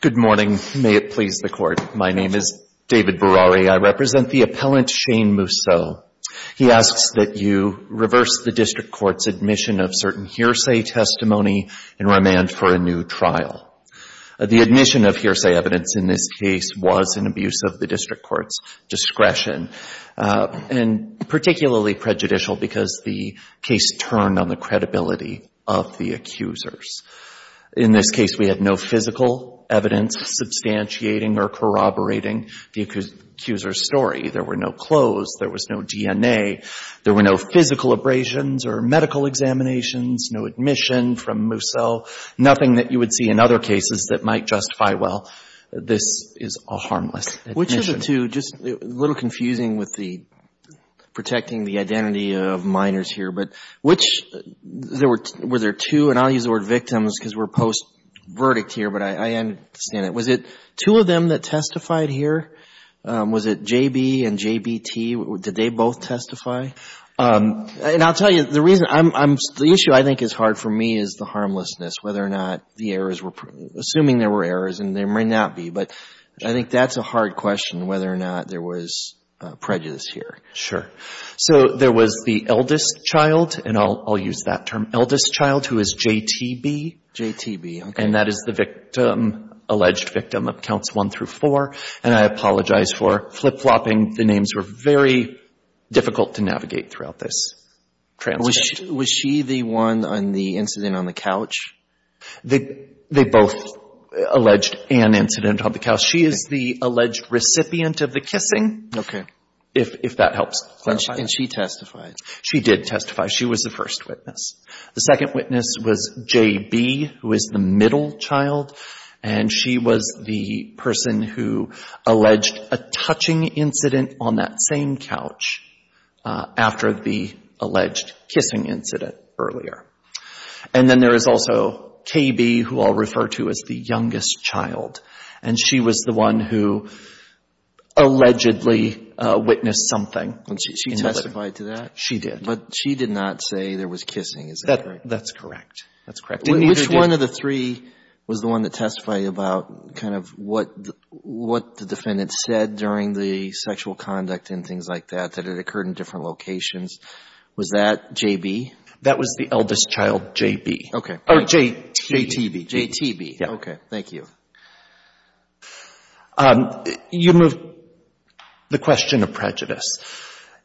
Good morning. May it please the Court, my name is David Berrari. I represent the appellant Shane Mousseaux. He asks that you reverse the district court's admission of certain hearsay testimony and remand for a new trial. The admission of hearsay evidence in this case was an abuse of the district court's discretion, and particularly prejudicial because the case turned on the credibility of the accusers. In this case, we had no physical evidence substantiating or corroborating the accuser's story. There were no clothes, there was no DNA, there were no physical abrasions or medical examinations, no admission from Mousseaux, nothing that you would see in other cases that might justify, well, this is a harmless admission. Which of the two, just a little confusing with the protecting the identity of minors here, but which, were there two, and I'll use the word victims because we're post-verdict here, but I understand it. Was it two of them that testified here? Was it J.B. and J.B.T.? Did they both testify? And I'll tell you, the issue I think is hard for me is the harmlessness, whether or not the errors were, assuming there were errors, and there may not be, but I think that's a hard question, whether or not there was prejudice here. Sure. So there was the eldest child, and I'll use that term, eldest child, who is J.T.B. J.T.B., okay. And that is the victim, alleged victim of counts one through four, and I apologize for flip-flopping. The names were very difficult to navigate throughout this transcript. Was she the one on the incident on the couch? They both alleged an incident on the couch. She is the alleged recipient of the kissing, okay, if that helps clarify. And she testified? She did testify. She was the first witness. The second witness was J.B., who is the middle child, and she was the person who alleged a touching incident on that same couch after the alleged kissing incident earlier. And then there is also K.B., who I'll refer to as the youngest child, and she was the one who allegedly witnessed something. And she testified to that? She did. But she did not say there was kissing, is that correct? That's correct. That's correct. Which one of the three was the one that testified about kind of what the defendant said during the sexual conduct and things like that, that it occurred in different locations? Was that J.B.? That was the eldest child, J.B. Okay. Or J.T.B. J.T.B., okay, thank you. You move the question of prejudice.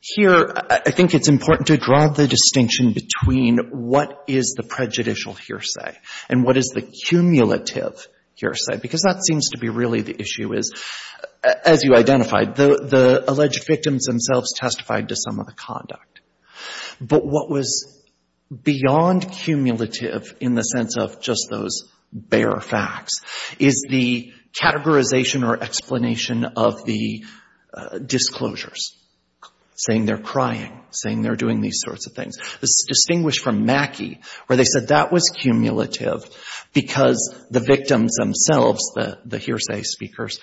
Here, I think it's important to draw the distinction between what is the prejudicial hearsay and what is the cumulative hearsay, because that seems to be really the issue is, as you identified, the alleged victims themselves testified to some of the conduct. But what was beyond cumulative in the sense of just those bare facts is the categorization or explanation of the disclosures, saying they're crying, saying they're doing these sorts of things. It's distinguished from Mackey, where they said that was cumulative because the victims themselves, the hearsay speakers,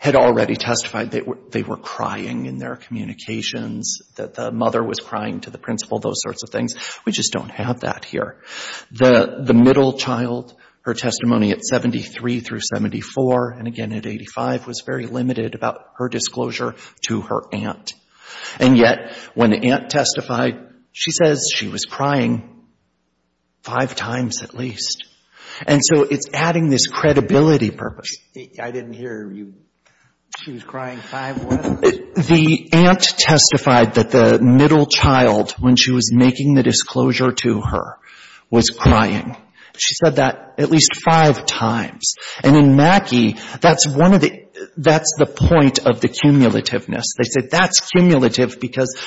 had already testified they were crying in their communications, that the mother was crying to the principal, those sorts of things. We just don't have that here. The middle child, her testimony at 73 through 74, and again at 85, was very limited about her disclosure to her aunt. And yet, when the aunt testified, she says she was crying five times at least. And so it's adding this credibility purpose. I didn't hear you. She was crying five what? The aunt testified that the middle child, when she was making the disclosure to her, was crying. She said that at least five times. And in Mackey, that's one of the, that's the point of the cumulativeness. They said that's cumulative because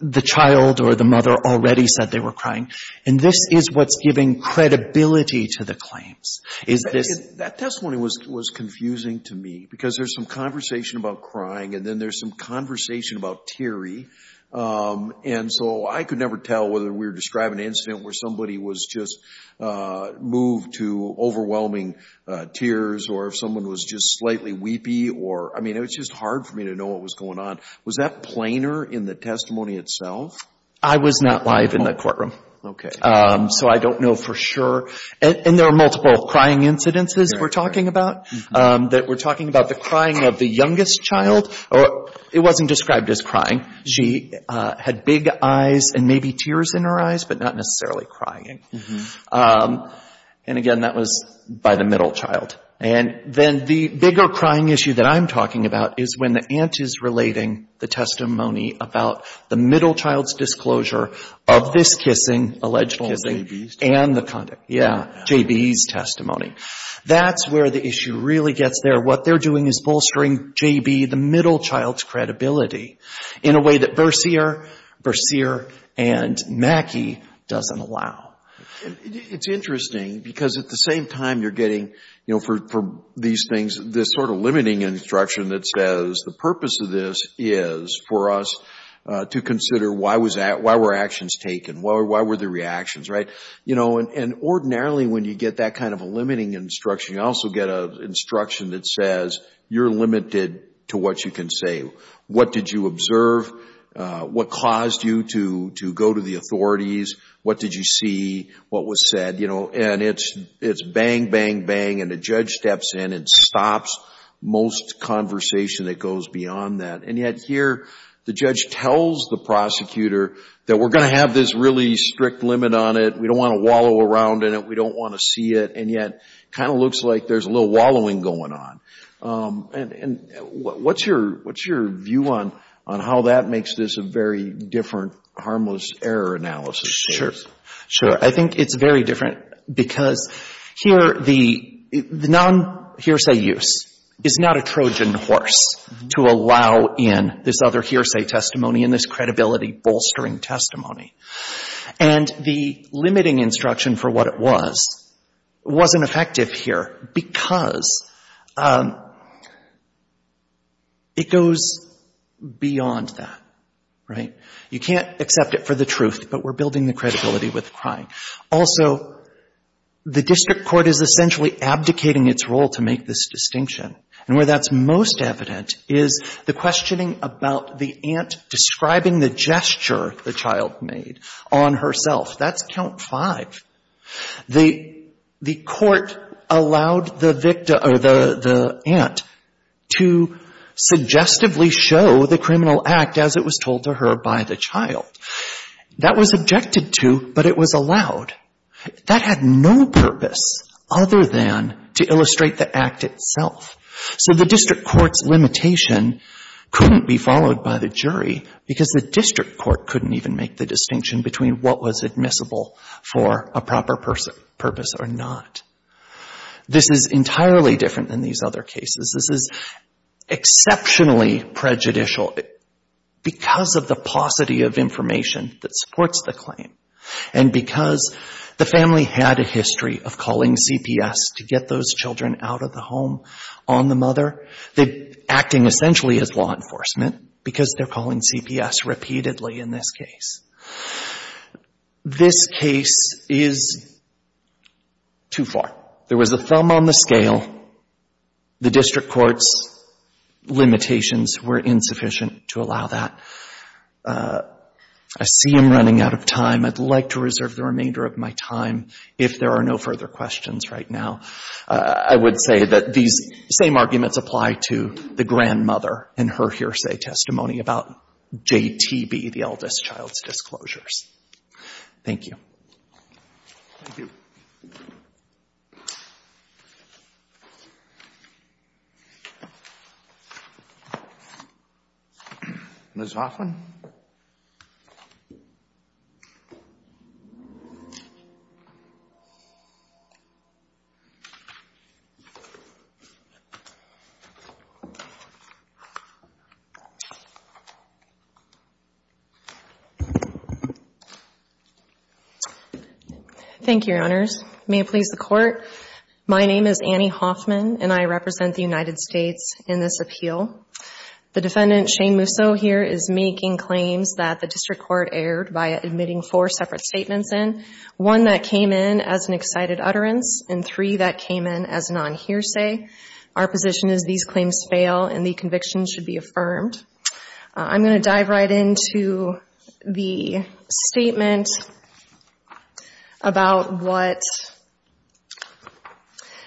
the child or the mother already said they were crying. And this is what's giving credibility to the claims, is this. That testimony was confusing to me because there's some conversation about crying and then there's some conversation about Terry. And so I could never tell whether we're describing an incident where somebody was just moved to overwhelming tears or if someone was just slightly weepy or, I mean, it was just hard for me to know what was going on. Was that plainer in the testimony itself? I was not live in the courtroom. Okay. So I don't know for sure. And there are multiple crying incidences that we're talking about, that we're talking about the crying of the youngest child. It wasn't described as crying. She had big eyes and maybe tears in her eyes, but not necessarily crying. And again, that was by the middle child. And then the bigger crying issue that I'm talking about is when the aunt is relating the testimony about the middle child's disclosure of this kissing, alleged kissing, and the conduct. Yeah, JB's testimony. That's where the issue really gets there. What they're doing is bolstering JB, the middle child's credibility. In a way that Verseer and Mackey doesn't allow. It's interesting because at the same time you're getting, you know, for these things, this sort of limiting instruction that says the purpose of this is for us to consider why were actions taken? Why were the reactions, right? You know, and ordinarily when you get that kind of a limiting instruction, you also get a instruction that says you're limited to what you can say. What did you observe? What caused you to go to the authorities? What did you see? What was said? And it's bang, bang, bang, and the judge steps in and stops most conversation that goes beyond that. And yet here, the judge tells the prosecutor that we're gonna have this really strict limit on it. We don't wanna wallow around in it. We don't wanna see it. And yet, it kinda looks like there's a little wallowing going on. And what's your view on how that makes this a very different harmless error analysis? Sure, sure. I think it's very different because here, the non-hearsay use is not a Trojan horse to allow in this other hearsay testimony and this credibility bolstering testimony. And the limiting instruction for what it was wasn't effective here because it goes beyond that, right? You can't accept it for the truth, but we're building the credibility with crying. Also, the district court is essentially abdicating its role to make this distinction. And where that's most evident is the questioning about the aunt describing the gesture the child made on herself. That's count five. The court allowed the victim or the aunt to suggestively show the criminal act as it was told to her by the child. That was objected to, but it was allowed. That had no purpose other than to illustrate the act itself. So the district court's limitation couldn't be followed by the jury because the district court couldn't even make the distinction between what was admissible for a proper purpose or not. This is entirely different than these other cases. This is exceptionally prejudicial because of the paucity of information that supports the claim. And because the family had a history of calling CPS to get those children out of the home on the mother, they're acting essentially as law enforcement because they're calling CPS repeatedly in this case. This case is too far. There was a thumb on the scale. The district court's limitations were insufficient to allow that. I see I'm running out of time. I'd like to reserve the remainder of my time if there are no further questions right now. I would say that these same arguments apply to the grandmother and her hearsay testimony about JTB, the eldest child's disclosures. Thank you. Thank you. Ms. Hoffman? Thank you, Your Honors. May it please the court. My name is Annie Hoffman, and I represent the United States in this appeal. The defendant Shane Musso here is making claims that the district court erred by admitting four separate statements in. One that came in as an excited utterance, and three that came in as a non-hearsay. Our position is these claims do not apply and these claims fail and the conviction should be affirmed. I'm gonna dive right into the statement about what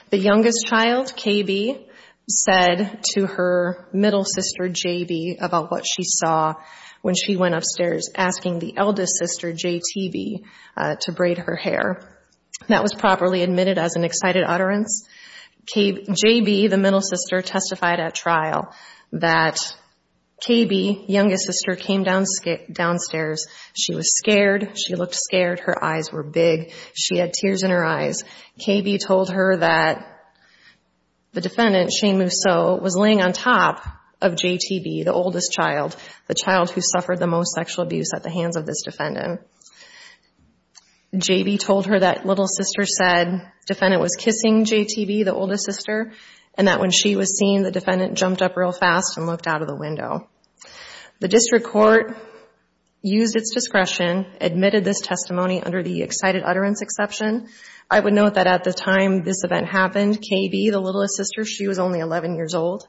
the youngest child, KB, said to her middle sister, JB, about what she saw when she went upstairs asking the eldest sister, JTB, to braid her hair. That was properly admitted as an excited utterance. JB, the middle sister, testified at trial that KB, youngest sister, came downstairs. She was scared. She looked scared. Her eyes were big. She had tears in her eyes. KB told her that the defendant, Shane Musso, was laying on top of JTB, the oldest child, the child who suffered the most sexual abuse at the hands of this defendant. JB told her that little sister said defendant was kissing JTB, the oldest sister, and that when she was seen, the defendant jumped up real fast and looked out of the window. The district court used its discretion, admitted this testimony under the excited utterance exception. I would note that at the time this event happened, KB, the littlest sister, she was only 11 years old,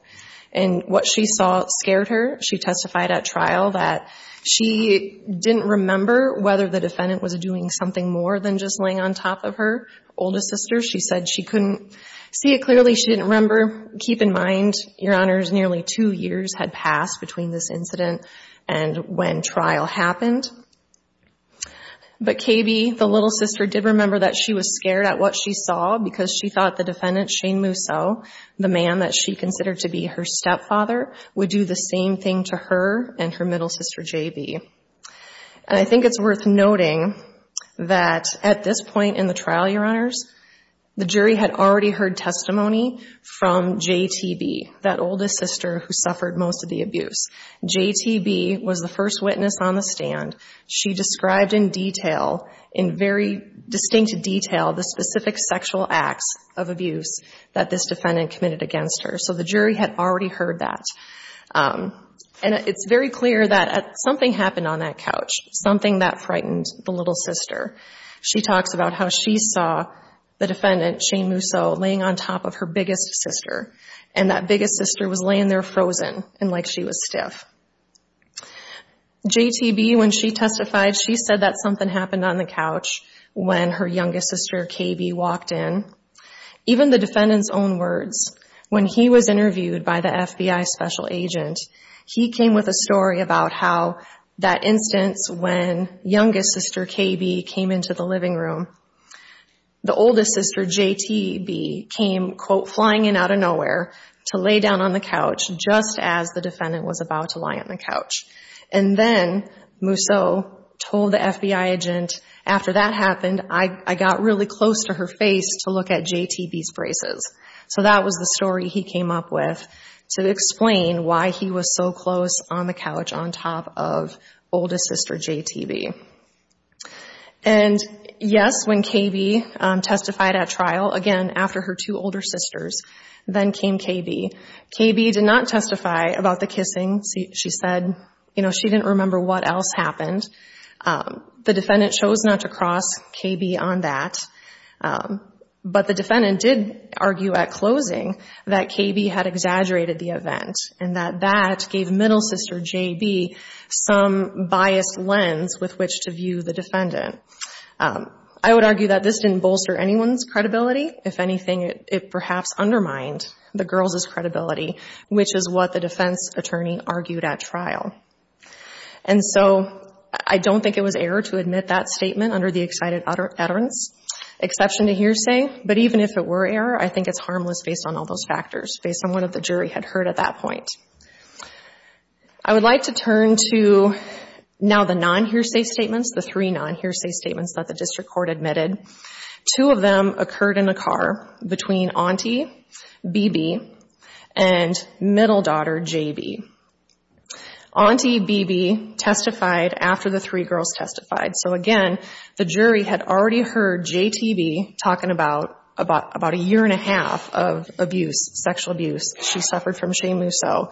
and what she saw scared her. She testified at trial that she didn't remember whether the defendant was doing something more than just laying on top of her oldest sister. She said she couldn't see it clearly. She didn't remember. Keep in mind, your honors, nearly two years had passed between this incident and when trial happened. But KB, the little sister, did remember that she was scared at what she saw because she thought the defendant, Shane Musso, the man that she considered to be her stepfather, would do the same thing to her and her middle sister, JB. And I think it's worth noting that at this point in the trial, your honors, the jury had already heard testimony from JTB, that oldest sister who suffered most of the abuse. JTB was the first witness on the stand. She described in detail, in very distinct detail, the specific sexual acts of abuse that this defendant committed against her. So the jury had already heard that. And it's very clear that something happened on that couch, something that frightened the little sister. She talks about how she saw the defendant, Shane Musso, laying on top of her biggest sister. And that biggest sister was laying there frozen and like she was stiff. JTB, when she testified, she said that something happened on the couch when her youngest sister, KB, walked in. Even the defendant's own words, when he was interviewed by the FBI special agent, he came with a story about how that instance when youngest sister, KB, came into the living room, the oldest sister, JTB, came, quote, flying in out of nowhere to lay down on the couch, just as the defendant was about to lie on the couch. And then Musso told the FBI agent, after that happened, I got really close to her face to look at JTB's braces. So that was the story he came up with to explain why he was so close on the couch, on top of oldest sister, JTB. And yes, when KB testified at trial, again, after her two older sisters, then came KB. KB did not testify about the kissing. She said, you know, she didn't remember what else happened. The defendant chose not to cross KB on that. But the defendant did argue at closing that KB had exaggerated the event and that that gave middle sister, JB, some biased lens with which to view the defendant. I would argue that this didn't bolster anyone's credibility. If anything, it perhaps undermined the girls' credibility, which is what the defense attorney argued at trial. And so I don't think it was error to admit that statement under the excited utterance, exception to hearsay. But even if it were error, I think it's harmless based on all those factors, based on what the jury had heard at that point. I would like to turn to now the non-hearsay statements, the three non-hearsay statements that the district court admitted. Two of them occurred in a car between auntie BB and middle daughter JB. Auntie BB testified after the three girls testified. So again, the jury had already heard JTB talking about a year and a half of abuse, sexual abuse. She suffered from shame move. So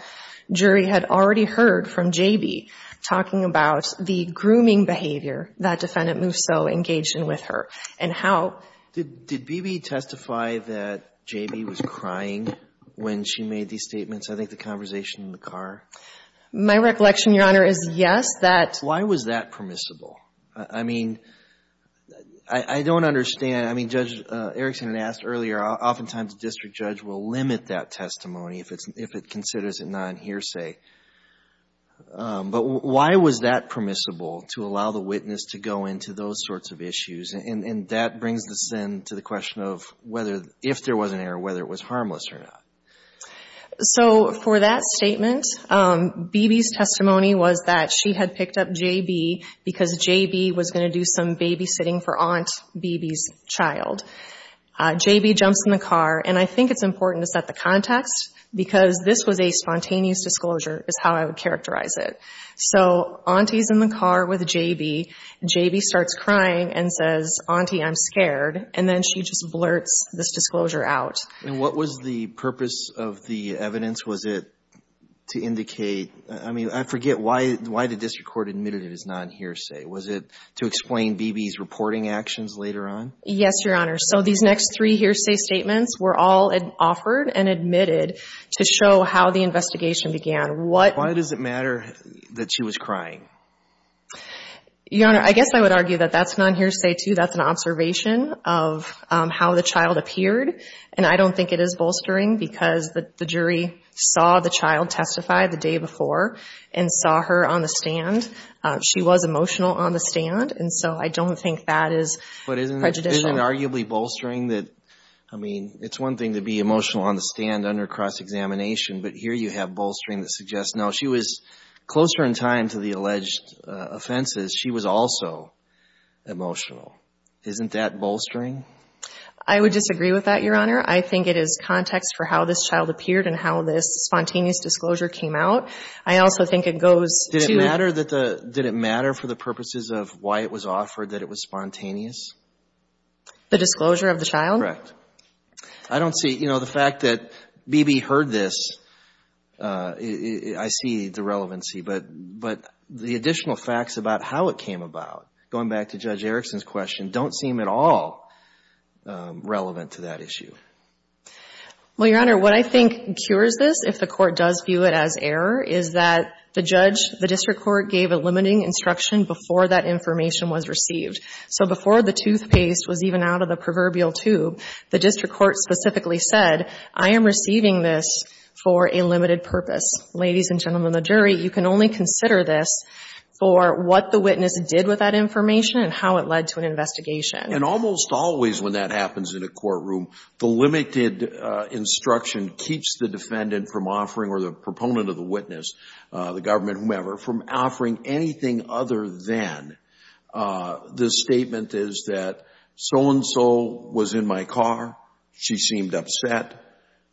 jury had already heard from JB talking about the grooming behavior that defendant Musso engaged in with her and how. Did BB testify that JB was crying when she made these statements? I think the conversation in the car. My recollection, Your Honor, is yes, that. Why was that permissible? I mean, I don't understand. I mean, Judge Erickson had asked earlier, oftentimes a district judge will limit that testimony if it considers it non-hearsay. But why was that permissible to allow the witness to go into those sorts of issues? And that brings us then to the question of whether, if there was an error, whether it was harmless or not. So for that statement, BB's testimony was that she had picked up JB because JB was gonna do some babysitting for Aunt BB's child. JB jumps in the car. And I think it's important to set the context because this was a spontaneous disclosure is how I would characterize it. So Auntie's in the car with JB. JB starts crying and says, Auntie, I'm scared. And then she just blurts this disclosure out. And what was the purpose of the evidence? Was it to indicate, I mean, I forget why the district court admitted it as non-hearsay. Was it to explain BB's reporting actions later on? Yes, Your Honor. So these next three hearsay statements were all offered and admitted to show how the investigation began. Why does it matter that she was crying? Your Honor, I guess I would argue that that's non-hearsay too. That's an observation of how the child appeared. And I don't think it is bolstering because the jury saw the child testify the day before and saw her on the stand. She was emotional on the stand. And so I don't think that is prejudicial. But isn't it arguably bolstering that, I mean, it's one thing to be emotional on the stand under cross-examination, but here you have bolstering that suggests, no, she was closer in time to the alleged offenses. She was also emotional. Isn't that bolstering? I would disagree with that, Your Honor. I think it is context for how this child appeared and how this spontaneous disclosure came out. I also think it goes to- Did it matter that the, did it matter for the purposes of why it was offered that it was spontaneous? The disclosure of the child? Correct. I don't see, you know, the fact that BB heard this, I see the relevancy. But the additional facts about how it came about, going back to Judge Erickson's question, don't seem at all relevant to that issue. Well, Your Honor, what I think cures this, if the court does view it as error, is that the judge, the district court, gave a limiting instruction before that information was received. So before the toothpaste was even out of the proverbial tube the district court specifically said, I am receiving this for a limited purpose. Ladies and gentlemen of the jury, you can only consider this for what the witness did with that information and how it led to an investigation. And almost always when that happens in a courtroom, the limited instruction keeps the defendant from offering, or the proponent of the witness, the government, whomever, from offering anything other than the statement is that so-and-so was in my car. She seemed upset.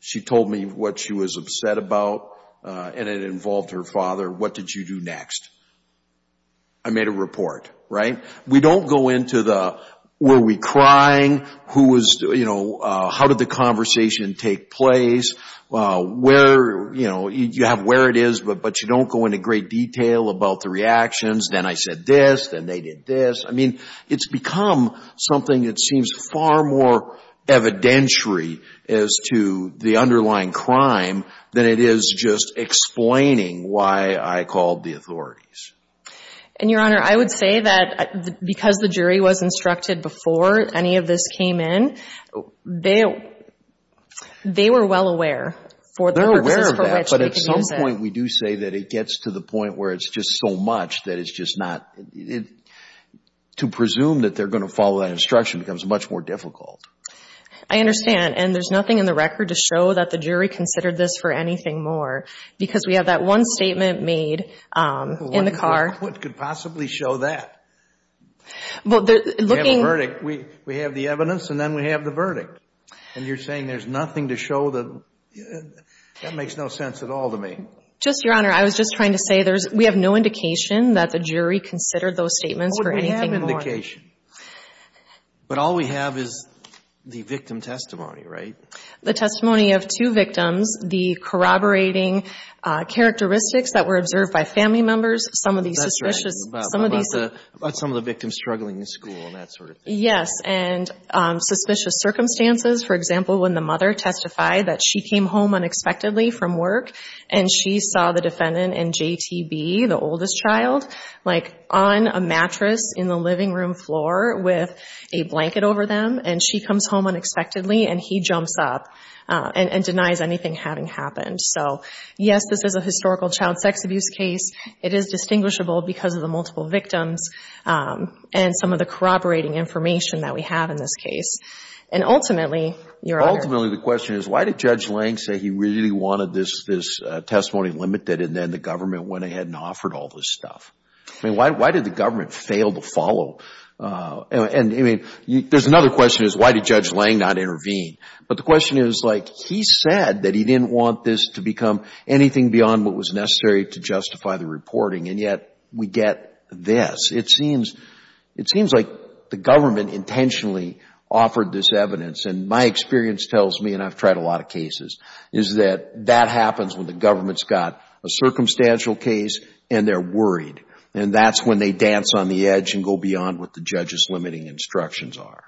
She told me what she was upset about, and it involved her father. What did you do next? I made a report, right? We don't go into the, were we crying? Who was, you know, how did the conversation take place? Where, you know, you have where it is, but you don't go into great detail about the reactions. Then I said this, then they did this. I mean, it's become something that seems far more evidentiary as to the underlying crime than it is just explaining why I called the authorities. And Your Honor, I would say that because the jury was instructed before any of this came in, they were well aware for the purposes for which they could use it. But at some point, we do say that it gets to the point where it's just so much that it's just not, to presume that they're gonna follow that instruction becomes much more difficult. I understand, and there's nothing in the record to show that the jury considered this for anything more because we have that one statement made in the car. What could possibly show that? Well, they're looking- We have a verdict, we have the evidence, and then we have the verdict. And you're saying there's nothing to show that, that makes no sense at all to me. Just, Your Honor, I was just trying to say there's, we have no indication that the jury considered those statements for anything more- How would we have indication? But all we have is the victim testimony, right? The testimony of two victims, the corroborating characteristics that were observed by family members, some of these suspicions- That's right. About some of the victims struggling in school and that sort of thing. Yes, and suspicious circumstances. For example, when the mother testified that she came home unexpectedly from work and she saw the defendant and JTB, the oldest child, like on a mattress in the living room floor with a blanket over them, and she comes home unexpectedly and he jumps up and denies anything having happened. So, yes, this is a historical child sex abuse case. It is distinguishable because of the multiple victims and some of the corroborating information that we have in this case. And ultimately, Your Honor- Ultimately, the question is, why did Judge Lang say he really wanted this testimony limited and then the government went ahead and offered all this stuff? I mean, why did the government fail to follow? And, I mean, there's another question is, why did Judge Lang not intervene? But the question is, like, he said that he didn't want this to become anything beyond what was necessary to justify the reporting. And yet, we get this. It seems like the government intentionally offered this evidence. And my experience tells me, and I've tried a lot of cases, is that that happens when the government's got a circumstantial case and they're worried. And that's when they dance on the edge and go beyond what the judge's limiting instructions are.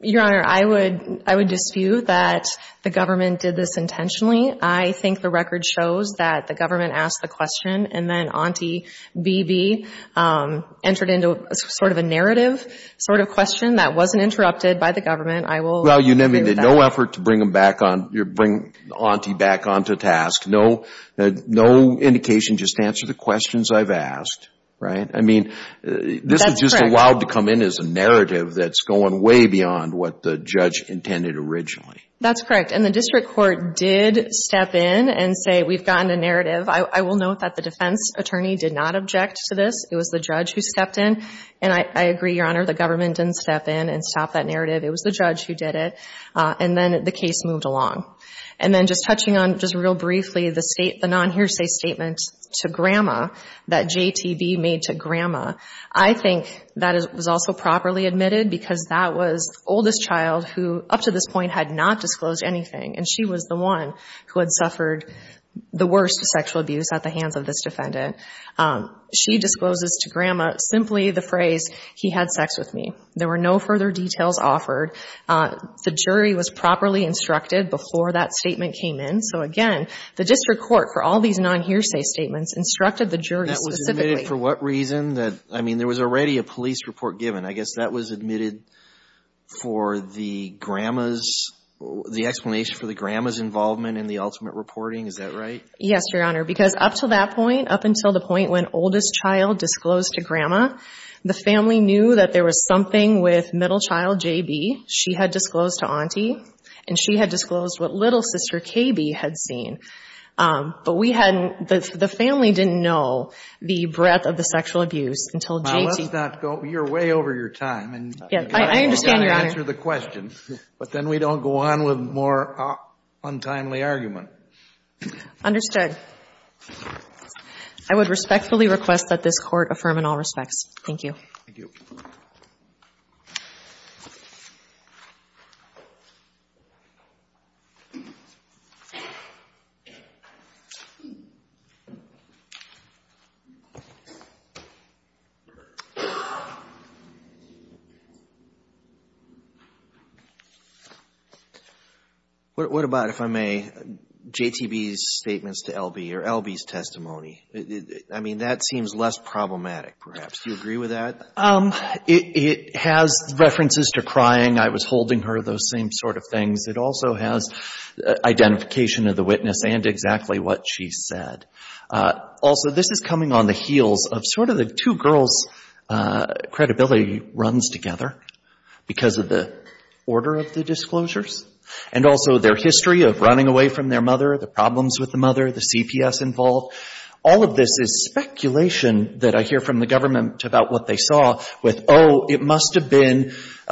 Your Honor, I would dispute that the government did this intentionally. I think the record shows that the government asked the question and then Auntie B.B. entered into sort of a narrative sort of question that wasn't interrupted by the government. I will agree with that. Well, you never did no effort to bring them back on, bring Auntie back onto task. No indication just to answer the questions I've asked. Right? I mean, this is just allowed to come in as a narrative that's going way beyond what the judge intended originally. That's correct. And the district court did step in and say, we've gotten a narrative. I will note that the defense attorney did not object to this. It was the judge who stepped in. And I agree, Your Honor, the government didn't step in and stop that narrative. It was the judge who did it. And then the case moved along. And then just touching on, just real briefly, the non-hearsay statement to Grandma that J.T.B. made to Grandma. I think that was also properly admitted because that was the oldest child who, up to this point, had not disclosed anything. And she was the one who had suffered the worst sexual abuse at the hands of this defendant. She discloses to Grandma simply the phrase, he had sex with me. There were no further details offered. The jury was properly instructed before that statement came in. So again, the district court, for all these non-hearsay statements, instructed the jury specifically. That was admitted for what reason? I mean, there was already a police report given. I guess that was admitted for the Grandma's, the explanation for the Grandma's involvement in the ultimate reporting, is that right? Yes, Your Honor, because up to that point, up until the point when oldest child disclosed to Grandma, the family knew that there was something with middle child J.B. She had disclosed to Auntie. And she had disclosed what little sister K.B. had seen. But we hadn't, the family didn't know the breadth of the sexual abuse until J.T. And so that does not go, you're way over your time, and I don't want to answer the question, but then we don't go on with more untimely argument. Understood. I would respectfully request that this court affirm in all respects. Thank you. Thank you. What about, if I may, J.T.B.'s statements to L.B., or L.B.'s testimony? I mean, that seems less problematic, perhaps. Do you agree with that? It has references to crying, I was holding her, those same sort of things. It also has identification of the witness and exactly what she said. Also, this is coming on the heels of sort of the two girls' credibility runs together because of the order of the disclosures. And also their history of running away from their mother, the problems with the mother, the CPS involved. All of this is speculation that I hear from the government about what they saw with, oh, it must have been,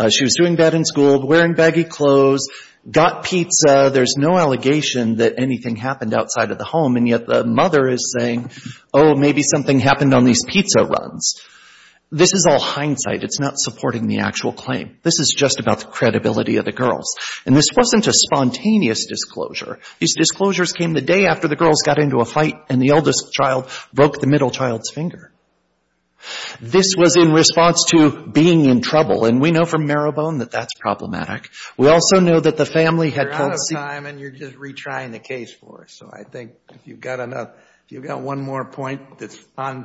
she was doing bad in school, wearing baggy clothes, got pizza, there's no allegation that anything happened outside of the home, and yet the mother is saying, oh, maybe something happened on these pizza runs. This is all hindsight. It's not supporting the actual claim. This is just about the credibility of the girls. And this wasn't a spontaneous disclosure. These disclosures came the day after the girls got into a fight and the eldest child broke the middle child's finger. This was in response to being in trouble. And we know from Marrowbone that that's problematic. We also know that the family had told C- You're out of time and you're just retrying the case for us. So I think if you've got enough, if you've got one more point that's on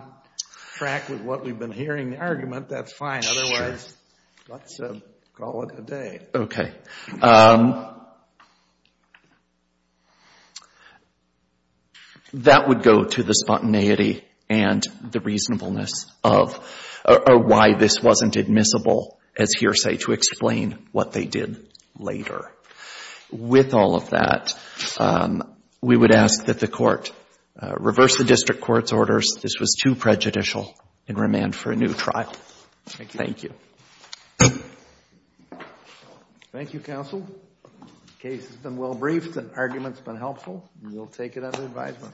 track with what we've been hearing the argument, that's fine. Otherwise, let's call it a day. That would go to the spontaneity and the reasonableness of, or why this wasn't admissible as hearsay to explain what they did later. With all of that, we would ask that the court reverse the district court's orders. This was too prejudicial and remand for a new trial. Thank you. Thank you, counsel. Case has been well briefed and argument's been helpful. We'll take it under advisement.